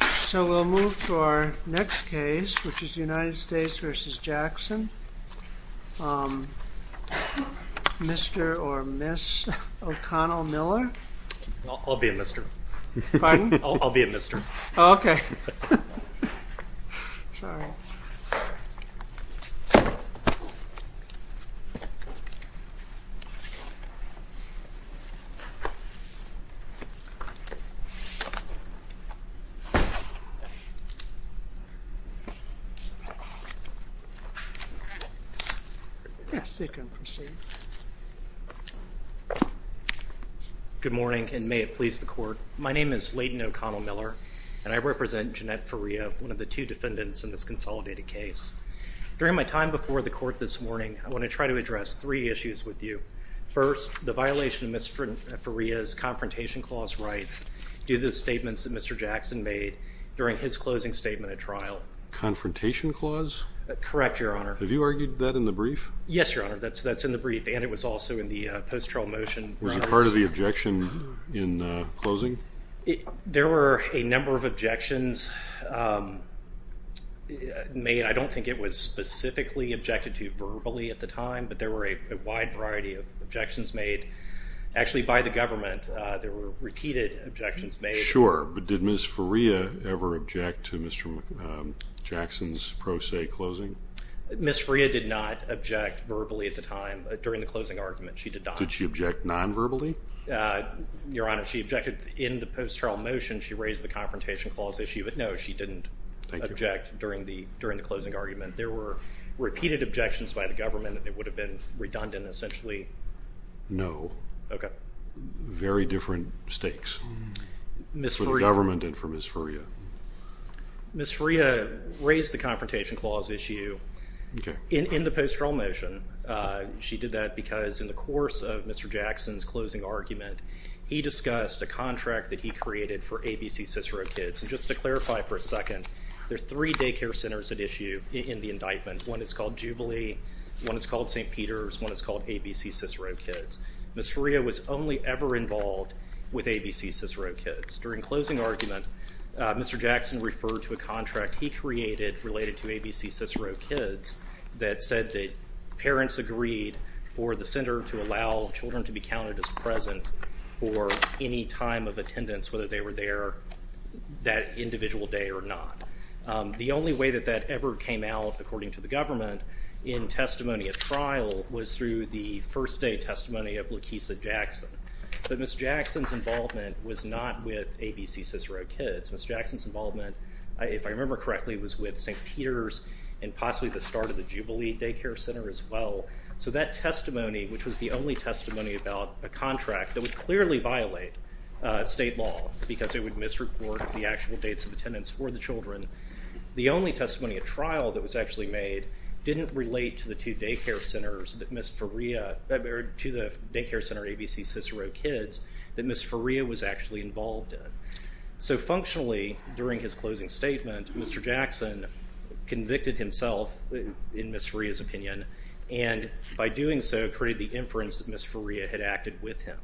So we'll move to our next case, which is United States v. Jackson. Mr. or Ms. O'Connell Miller? I'll be a Mr. Pardon? I'll be a Mr. Oh, okay. Sorry. Yes, you can proceed. Good morning, and may it please the court. My name is Leighton O'Connell Miller, and I represent Jeanette Faria, one of the two defendants in this consolidated case. During my time before the court this morning, I want to try to address three issues with you. First, the violation of Ms. Faria's confrontation clause rights due to the statements that Mr. Jackson made during his closing statement at trial. Confrontation clause? Correct, Your Honor. Have you argued that in the brief? Yes, Your Honor, that's in the brief, and it was also in the post-trial motion. Was it part of the objection in closing? There were a number of objections made. I don't think it was specifically objected to verbally at the time, but there were a wide variety of objections made. Actually, by the government, there were repeated objections made. Sure, but did Ms. Faria ever object to Mr. Jackson's pro se closing? Ms. Faria did not object verbally at the time. During the closing argument, she did not. Did she object non-verbally? Your Honor, she objected in the post-trial motion. She raised the confrontation clause issue, but no, she didn't object during the closing argument. There were repeated objections by the government, and it would have been redundant, essentially. No. Okay. Very different stakes for the government and for Ms. Faria. Ms. Faria raised the confrontation clause issue in the post-trial motion. She did that because in the course of Mr. Jackson's closing argument, he discussed a contract that he created for ABC Cicero Kids. And just to clarify for a second, there are three daycare centers at issue in the indictment. One is called Jubilee. One is called St. Peter's. One is called ABC Cicero Kids. Ms. Faria was only ever involved with ABC Cicero Kids. During the closing argument, Mr. Jackson referred to a contract he created related to ABC Cicero Kids that said that parents agreed for the center to allow children to be counted as present for any time of attendance, whether they were there that individual day or not. The only way that that ever came out, according to the government, in testimony at trial, was through the first day testimony of Lakeesa Jackson. But Ms. Jackson's involvement was not with ABC Cicero Kids. Ms. Jackson's involvement, if I remember correctly, was with St. Peter's and possibly the start of the Jubilee Daycare Center as well. So that testimony, which was the only testimony about a contract that would clearly violate state law because it would misreport the actual dates of attendance for the children, the only testimony at trial that was actually made didn't relate to the two daycare centers that Ms. Faria, or to the daycare center ABC Cicero Kids that Ms. Faria was actually involved in. So functionally, during his closing statement, Mr. Jackson convicted himself, in Ms. Faria's opinion, and by doing so created the inference that Ms. Faria had acted with him.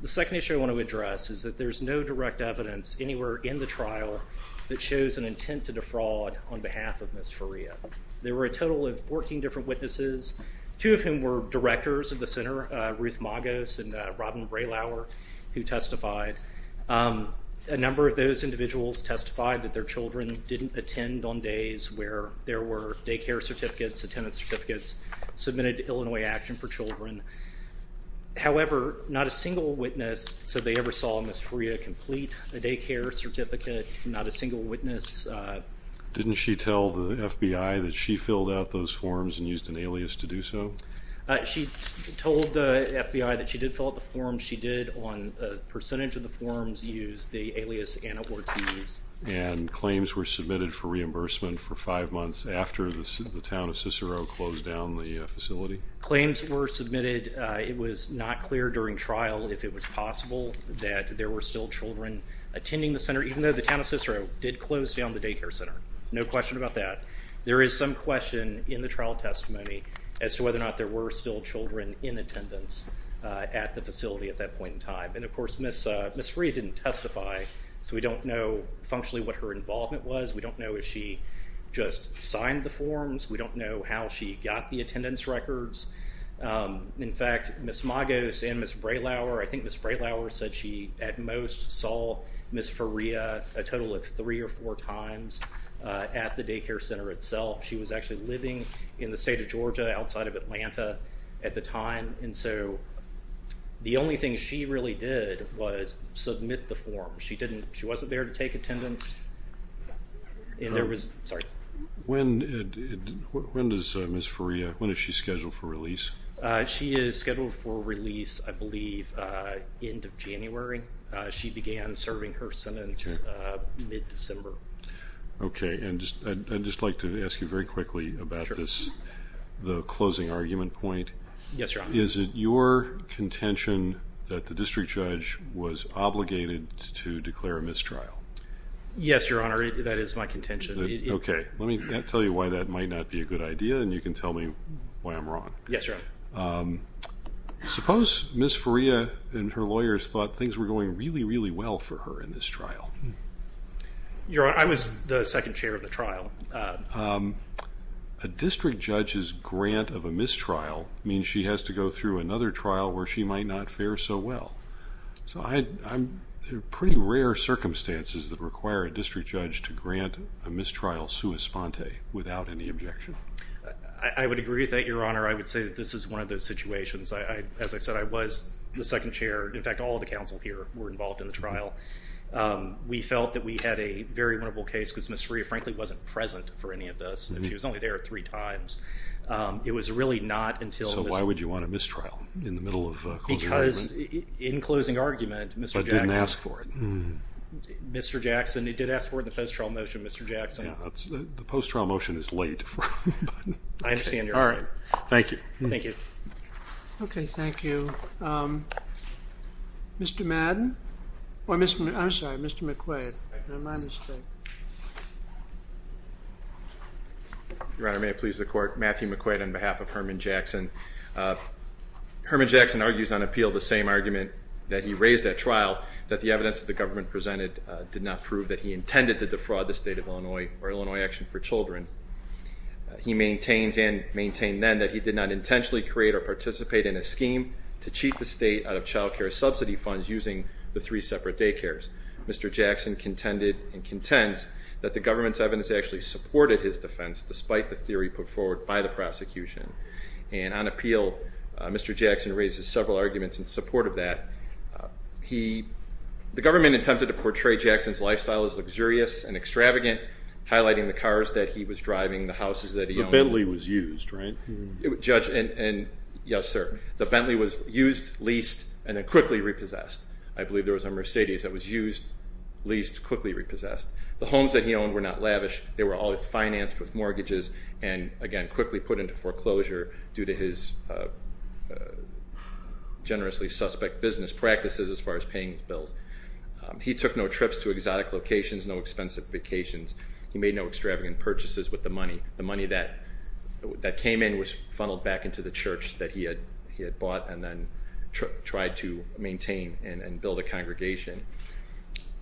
The second issue I want to address is that there's no direct evidence anywhere in the trial that shows an intent to defraud on behalf of Ms. Faria. There were a total of 14 different witnesses, two of whom were directors of the center, Ruth Magos and Robin Braylower, who testified. A number of those individuals testified that their children didn't attend on days where there were daycare certificates, attendance certificates submitted to Illinois Action for Children. However, not a single witness said they ever saw Ms. Faria complete a daycare certificate, not a single witness. Didn't she tell the FBI that she filled out those forms and used an alias to do so? She told the FBI that she did fill out the forms. She did, on a percentage of the forms, use the alias Anna Ortiz. And claims were submitted for reimbursement for five months after the town of Cicero closed down the facility? Claims were submitted. It was not clear during trial if it was possible that there were still children attending the center, even though the town of Cicero did close down the daycare center. No question about that. There is some question in the trial testimony as to whether or not there were still children in attendance at the facility at that point in time. And, of course, Ms. Faria didn't testify, so we don't know functionally what her involvement was. We don't know if she just signed the forms. We don't know how she got the attendance records. In fact, Ms. Magos and Ms. Braylauer, I think Ms. Braylauer said she at most saw Ms. Faria a total of three or four times at the daycare center itself. She was actually living in the state of Georgia outside of Atlanta at the time, and so the only thing she really did was submit the forms. She wasn't there to take attendance. Sorry. When is Ms. Faria scheduled for release? She is scheduled for release, I believe, end of January. She began serving her sentence mid-December. Okay, and I'd just like to ask you very quickly about this, the closing argument point. Yes, Your Honor. Is it your contention that the district judge was obligated to declare a mistrial? Yes, Your Honor, that is my contention. Okay, let me tell you why that might not be a good idea, and you can tell me why I'm wrong. Yes, Your Honor. Suppose Ms. Faria and her lawyers thought things were going really, really well for her in this trial. Your Honor, I was the second chair of the trial. A district judge's grant of a mistrial means she has to go through another trial where she might not fare so well. So there are pretty rare circumstances that require a district judge to grant a mistrial sua sponte without any objection. I would agree with that, Your Honor. I would say that this is one of those situations. As I said, I was the second chair. In fact, all of the counsel here were involved in the trial. We felt that we had a very winnable case because Ms. Faria, frankly, wasn't present for any of this. She was only there three times. It was really not until Ms. So why would you want a mistrial in the middle of a closing argument? Because in closing argument, Mr. Jackson. But didn't ask for it. Mr. Jackson, he did ask for it in the post-trial motion, Mr. Jackson. The post-trial motion is late. I understand your point. Thank you. Thank you. Okay, thank you. Mr. Madden? I'm sorry, Mr. McQuaid. My mistake. Your Honor, may it please the Court. Matthew McQuaid on behalf of Herman Jackson. Herman Jackson argues on appeal the same argument that he raised at trial, that the evidence that the government presented did not prove that he intended to defraud the state of Illinois or Illinois Action for Children. He maintains and maintained then that he did not intentionally create or participate in a scheme to cheat the state out of child care subsidy funds using the three separate daycares. Mr. Jackson contended and contends that the government's evidence actually supported his defense, despite the theory put forward by the prosecution. And on appeal, Mr. Jackson raises several arguments in support of that. The government attempted to portray Jackson's lifestyle as luxurious and extravagant, highlighting the cars that he was driving, the houses that he owned. The Bentley was used, right? Yes, sir. The Bentley was used, leased, and then quickly repossessed. I believe there was a Mercedes that was used, leased, quickly repossessed. The homes that he owned were not lavish. They were all financed with mortgages and, again, quickly put into foreclosure due to his generously suspect business practices as far as paying his bills. He took no trips to exotic locations, no expensive vacations. He made no extravagant purchases with the money. The money that came in was funneled back into the church that he had bought and then tried to maintain and build a congregation.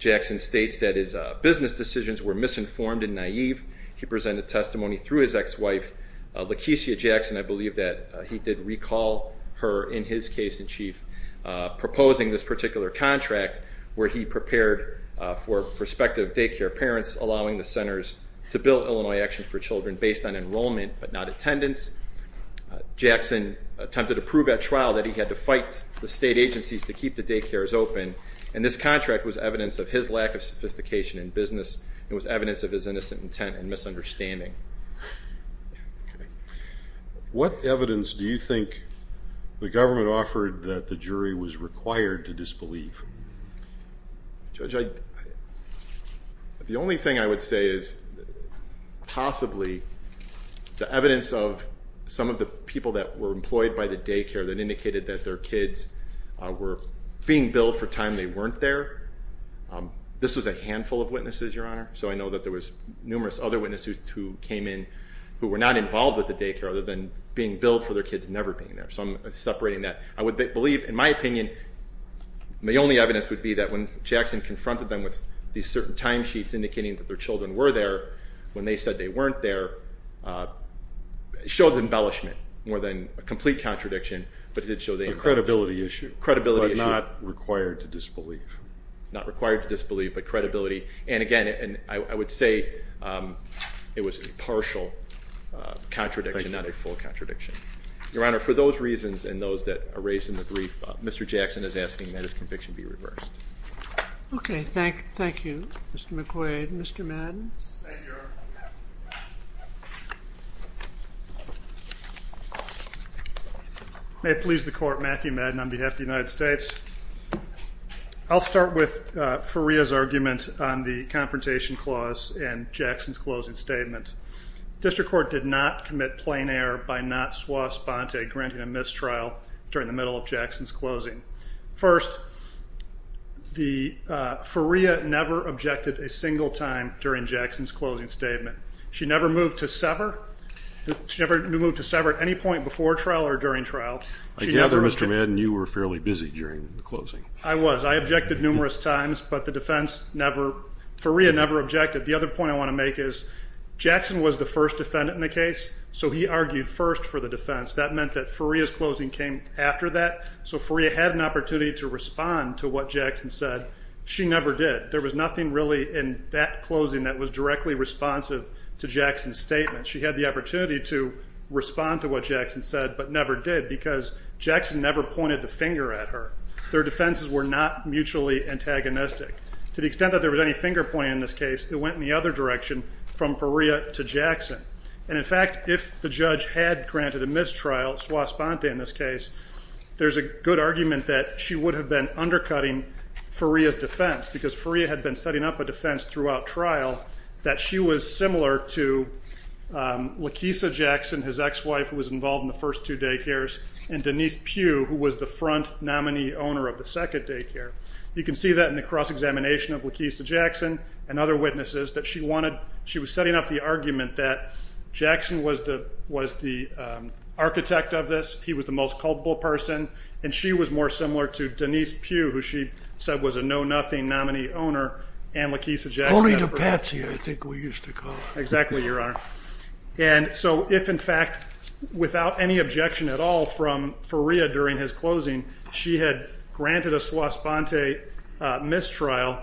Jackson states that his business decisions were misinformed and naive. He presented testimony through his ex-wife, Lakecia Jackson, I believe that he did recall her in his case in chief, proposing this particular contract where he prepared for prospective daycare parents, allowing the centers to build Illinois Action for Children based on enrollment but not attendance. Jackson attempted to prove at trial that he had to fight the state agencies to keep the daycares open, and this contract was evidence of his lack of sophistication in business and was evidence of his innocent intent and misunderstanding. What evidence do you think the government offered that the jury was required to disbelieve? Judge, the only thing I would say is possibly the evidence of some of the people that were employed by the daycare that indicated that their kids were being billed for time they weren't there. This was a handful of witnesses, Your Honor, so I know that there was numerous other witnesses who came in who were not involved with the daycare other than being billed for their kids never being there, so I'm separating that. I would believe, in my opinion, the only evidence would be that when Jackson confronted them with these certain timesheets indicating that their children were there when they said they weren't there, it showed embellishment more than a complete contradiction, but it did show the embellishment. A credibility issue. A credibility issue. But not required to disbelieve. Not required to disbelieve, but credibility. And again, I would say it was a partial contradiction, not a full contradiction. Your Honor, for those reasons and those that are raised in the brief, Mr. Jackson is asking that his conviction be reversed. Okay, thank you, Mr. McQuade. Mr. Madden? Thank you, Your Honor. May it please the Court, Matthew Madden on behalf of the United States. I'll start with Faria's argument on the Confrontation Clause and Jackson's closing statement. District Court did not commit plain error by not swa sponte, granting a mistrial, during the middle of Jackson's closing. First, Faria never objected a single time during Jackson's closing statement. She never moved to sever at any point before trial or during trial. I gather, Mr. Madden, you were fairly busy during the closing. I was. I objected numerous times, but Faria never objected. The other point I want to make is Jackson was the first defendant in the case, so he argued first for the defense. That meant that Faria's closing came after that, so Faria had an opportunity to respond to what Jackson said. She never did. There was nothing really in that closing that was directly responsive to Jackson's statement. She had the opportunity to respond to what Jackson said but never did because Jackson never pointed the finger at her. Their defenses were not mutually antagonistic. To the extent that there was any finger pointing in this case, it went in the other direction from Faria to Jackson. And, in fact, if the judge had granted a mistrial, swa sponte in this case, there's a good argument that she would have been undercutting Faria's defense because Faria had been setting up a defense throughout trial that she was similar to Lakeisa Jackson, his ex-wife, who was involved in the first two daycares, and Denise Pugh, who was the front nominee owner of the second daycare. You can see that in the cross-examination of Lakeisa Jackson and other witnesses that she was setting up the argument that Jackson was the architect of this. He was the most culpable person. And she was more similar to Denise Pugh, who she said was a know-nothing nominee owner, and Lakeisa Jackson. Only the patsy, I think we used to call her. Exactly, Your Honor. And so if, in fact, without any objection at all from Faria during his closing, she had granted a swa sponte mistrial,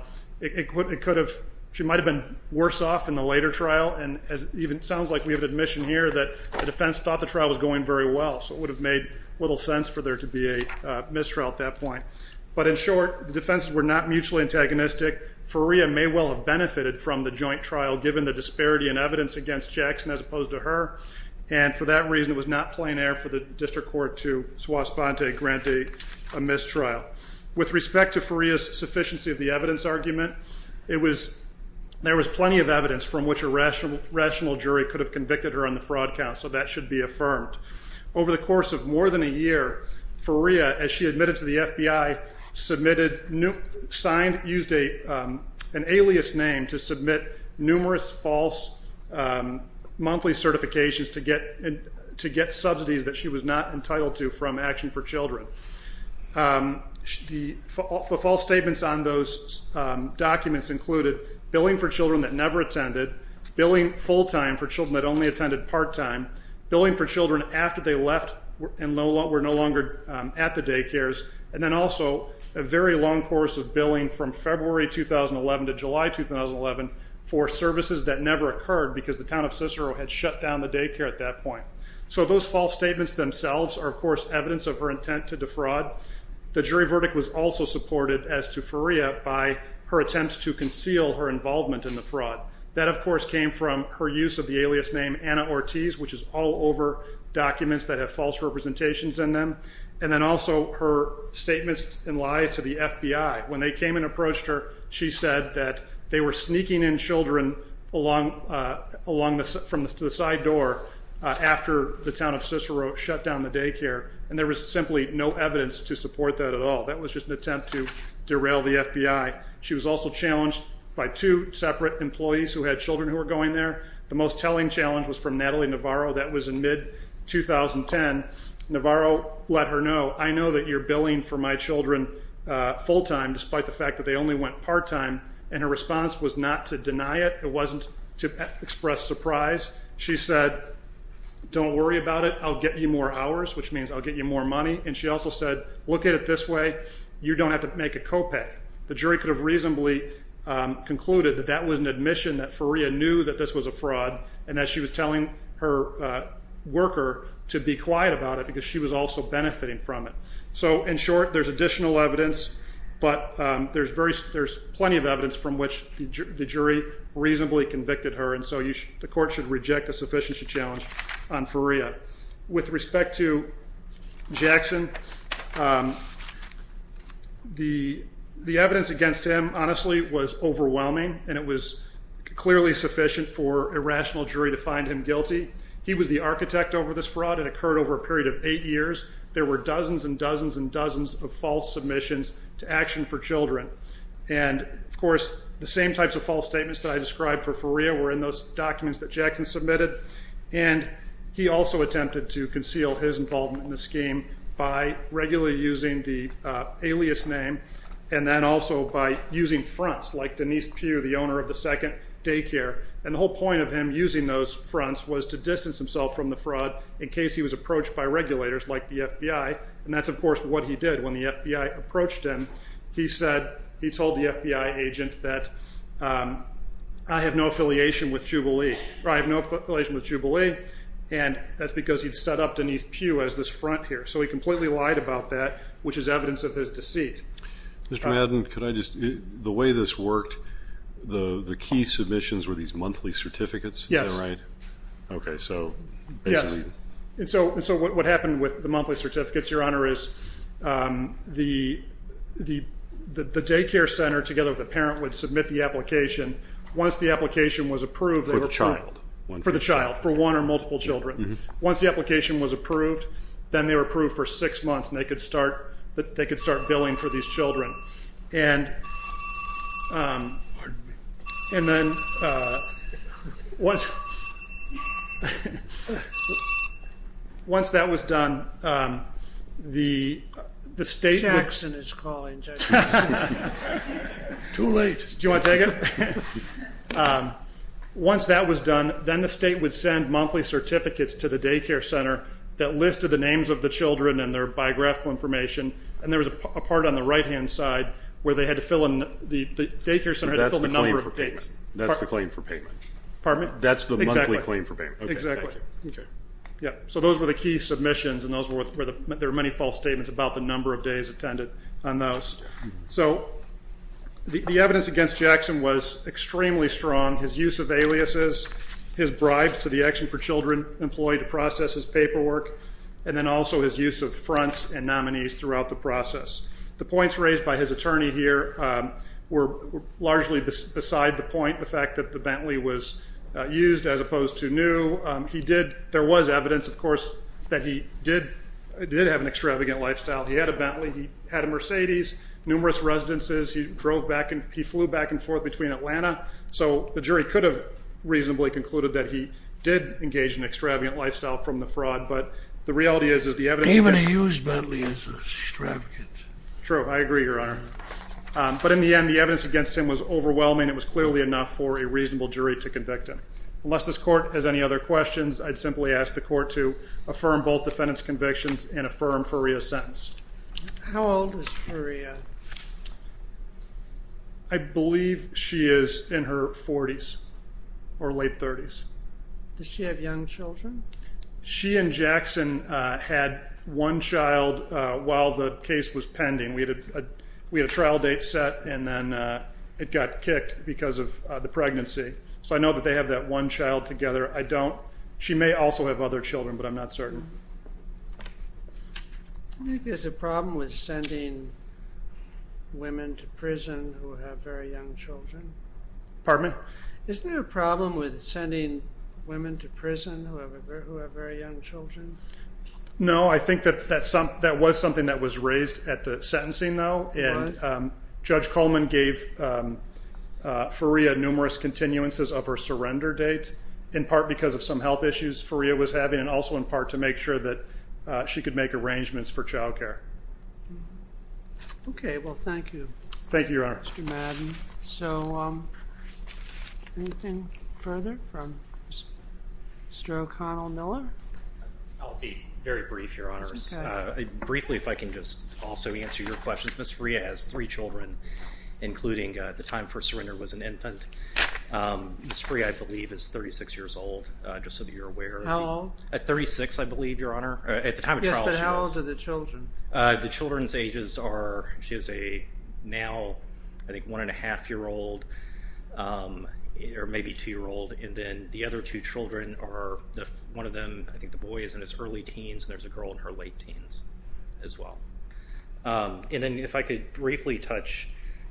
she might have been worse off in the later trial. And it even sounds like we have admission here that the defense thought the trial was going very well, so it would have made little sense for there to be a mistrial at that point. But in short, the defenses were not mutually antagonistic. Faria may well have benefited from the joint trial, given the disparity in evidence against Jackson as opposed to her, and for that reason it was not plain air for the district court to swa sponte grant a mistrial. With respect to Faria's sufficiency of the evidence argument, there was plenty of evidence from which a rational jury could have convicted her on the fraud count, so that should be affirmed. Over the course of more than a year, Faria, as she admitted to the FBI, used an alias name to submit numerous false monthly certifications to get subsidies that she was not entitled to from Action for Children. The false statements on those documents included billing for children that never attended, billing full time for children that only attended part time, billing for children after they left and were no longer at the daycares, and then also a very long course of billing from February 2011 to July 2011 for services that never occurred because the town of Cicero had shut down the daycare at that point. So those false statements themselves are, of course, evidence of her intent to defraud. The jury verdict was also supported as to Faria by her attempts to conceal her involvement in the fraud. That, of course, came from her use of the alias name Anna Ortiz, which is all over documents that have false representations in them, and then also her statements and lies to the FBI. When they came and approached her, she said that they were sneaking in children from the side door after the town of Cicero shut down the daycare, and there was simply no evidence to support that at all. That was just an attempt to derail the FBI. She was also challenged by two separate employees who had children who were going there. The most telling challenge was from Natalie Navarro. That was in mid-2010. Navarro let her know, I know that you're billing for my children full time, despite the fact that they only went part time, and her response was not to deny it. It wasn't to express surprise. She said, don't worry about it. I'll get you more hours, which means I'll get you more money, and she also said, look at it this way. You don't have to make a copay. The jury could have reasonably concluded that that was an admission that Faria knew that this was a fraud and that she was telling her worker to be quiet about it because she was also benefiting from it. So in short, there's additional evidence, but there's plenty of evidence from which the jury reasonably convicted her, and so the court should reject the sufficiency challenge on Faria. With respect to Jackson, the evidence against him honestly was overwhelming, and it was clearly sufficient for a rational jury to find him guilty. He was the architect over this fraud. It occurred over a period of eight years. There were dozens and dozens and dozens of false submissions to Action for Children, and, of course, the same types of false statements that I described for Faria were in those documents that Jackson submitted, and he also attempted to conceal his involvement in the scheme by regularly using the alias name and then also by using fronts like Denise Pugh, the owner of the second daycare, and the whole point of him using those fronts was to distance himself from the fraud in case he was approached by regulators like the FBI, and that's, of course, what he did. When the FBI approached him, he said he told the FBI agent that I have no affiliation with Jubilee or I have no affiliation with Jubilee, and that's because he'd set up Denise Pugh as this front here, so he completely lied about that, which is evidence of his deceit. Mr. Madden, could I just ask, the way this worked, the key submissions were these monthly certificates? Yes. Is that right? Okay, so basically. Yes, and so what happened with the monthly certificates, Your Honor, is the daycare center together with the parent would submit the application. Once the application was approved, they were paid. For the child. For the child, for one or multiple children. Once the application was approved, then they were approved for six months, and they could start billing for these children. And then once that was done, the state would. Jackson is calling, Jackson. Too late. Do you want to take it? Once that was done, then the state would send monthly certificates to the daycare center that listed the names of the children and their biographical information, and there was a part on the right-hand side where they had to fill in, the daycare center had to fill in the number of dates. That's the claim for payment. Pardon me? That's the monthly claim for payment. Exactly. Okay. So those were the key submissions, and there were many false statements about the number of days attended on those. So the evidence against Jackson was extremely strong. His use of aliases, his bribes to the Action for Children employee to process his paperwork, and then also his use of fronts and nominees throughout the process. The points raised by his attorney here were largely beside the point, the fact that the Bentley was used as opposed to new. There was evidence, of course, that he did have an extravagant lifestyle. He had a Bentley. He had a Mercedes, numerous residences. He flew back and forth between Atlanta. So the jury could have reasonably concluded that he did engage in an extravagant lifestyle from the fraud, but the reality is, is the evidence against him. Even a used Bentley is extravagant. True. I agree, Your Honor. But in the end, the evidence against him was overwhelming. It was clearly enough for a reasonable jury to convict him. Unless this Court has any other questions, I'd simply ask the Court to affirm both defendant's convictions and affirm Faria's sentence. How old is Faria? I believe she is in her 40s or late 30s. Does she have young children? She and Jackson had one child while the case was pending. We had a trial date set, and then it got kicked because of the pregnancy. So I know that they have that one child together. I don't. She may also have other children, but I'm not certain. I think there's a problem with sending women to prison who have very young children. Pardon me? Isn't there a problem with sending women to prison who have very young children? No. I think that was something that was raised at the sentencing, though. What? Judge Coleman gave Faria numerous continuances of her surrender date, in part because of some health issues Faria was having, and also in part to make sure that she could make arrangements for child care. Okay. Well, thank you, Mr. Madden. Thank you, Your Honor. So anything further from Mr. O'Connell Miller? I'll be very brief, Your Honor. Briefly, if I can just also answer your questions. Ms. Faria has three children, including, at the time of her surrender, was an infant. Ms. Faria, I believe, is 36 years old, just so that you're aware. How old? At 36, I believe, Your Honor. At the time of trial, she was. Yes, but how old are the children? The children's ages are, she is a now, I think, one-and-a-half-year-old, or maybe two-year-old, and then the other two children are, one of them, I think the boy is in his early teens, and there's a girl in her late teens as well. And then if I could briefly touch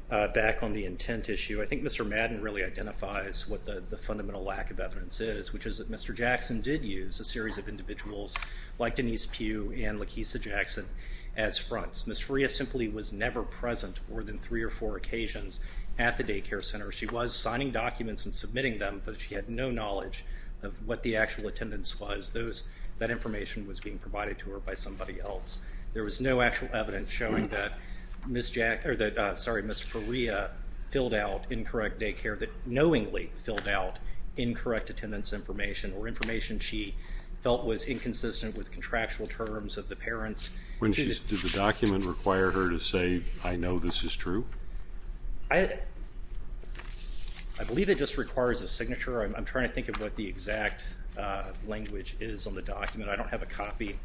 back on the intent issue, I think Mr. Madden really identifies what the fundamental lack of evidence is, which is that Mr. Jackson did use a series of individuals like Denise Pugh and Lakeesa Jackson as fronts. Ms. Faria simply was never present more than three or four occasions at the daycare center. She was signing documents and submitting them, but she had no knowledge of what the actual attendance was. That information was being provided to her by somebody else. There was no actual evidence showing that Ms. Faria filled out incorrect daycare, that knowingly filled out incorrect attendance information or information she felt was inconsistent with contractual terms of the parents. Did the document require her to say, I know this is true? I believe it just requires a signature. I'm trying to think of what the exact language is on the document. I don't have a copy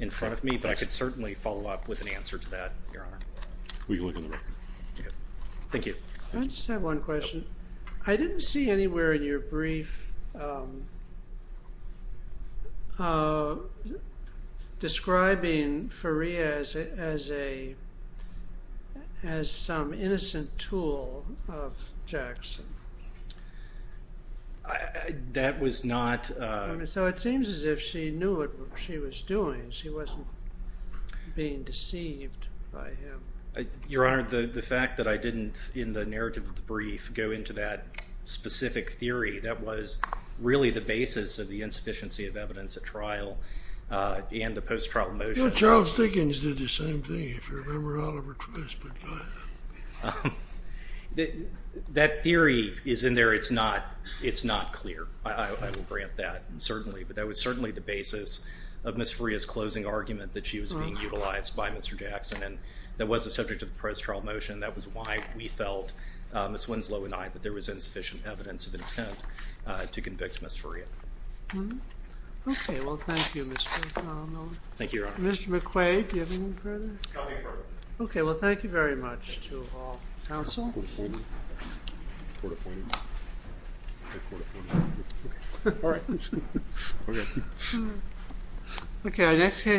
in front of me, but I could certainly follow up with an answer to that, Your Honor. Thank you. I just have one question. I didn't see anywhere in your brief describing Faria as some innocent tool of Jackson. That was not. So it seems as if she knew what she was doing. She wasn't being deceived by him. Your Honor, the fact that I didn't, in the narrative of the brief, go into that specific theory, that was really the basis of the insufficiency of evidence at trial and the post-trial motion. Charles Dickens did the same thing, if you remember Oliver Twist. That theory is in there. It's not clear. I will grant that, certainly. But that was certainly the basis of Ms. Faria's closing argument that she was being utilized by Mr. Jackson. And that was the subject of the post-trial motion. That was why we felt, Ms. Winslow and I, that there was insufficient evidence of intent to convict Ms. Faria. Okay. Well, thank you, Mr. McConnell. Thank you, Your Honor. Mr. McQuaid, do you have anything further? Nothing further. Okay, well, thank you very much to all counsel. Court appointed. Court appointed. Court appointed. All right. Okay. Okay, our next case is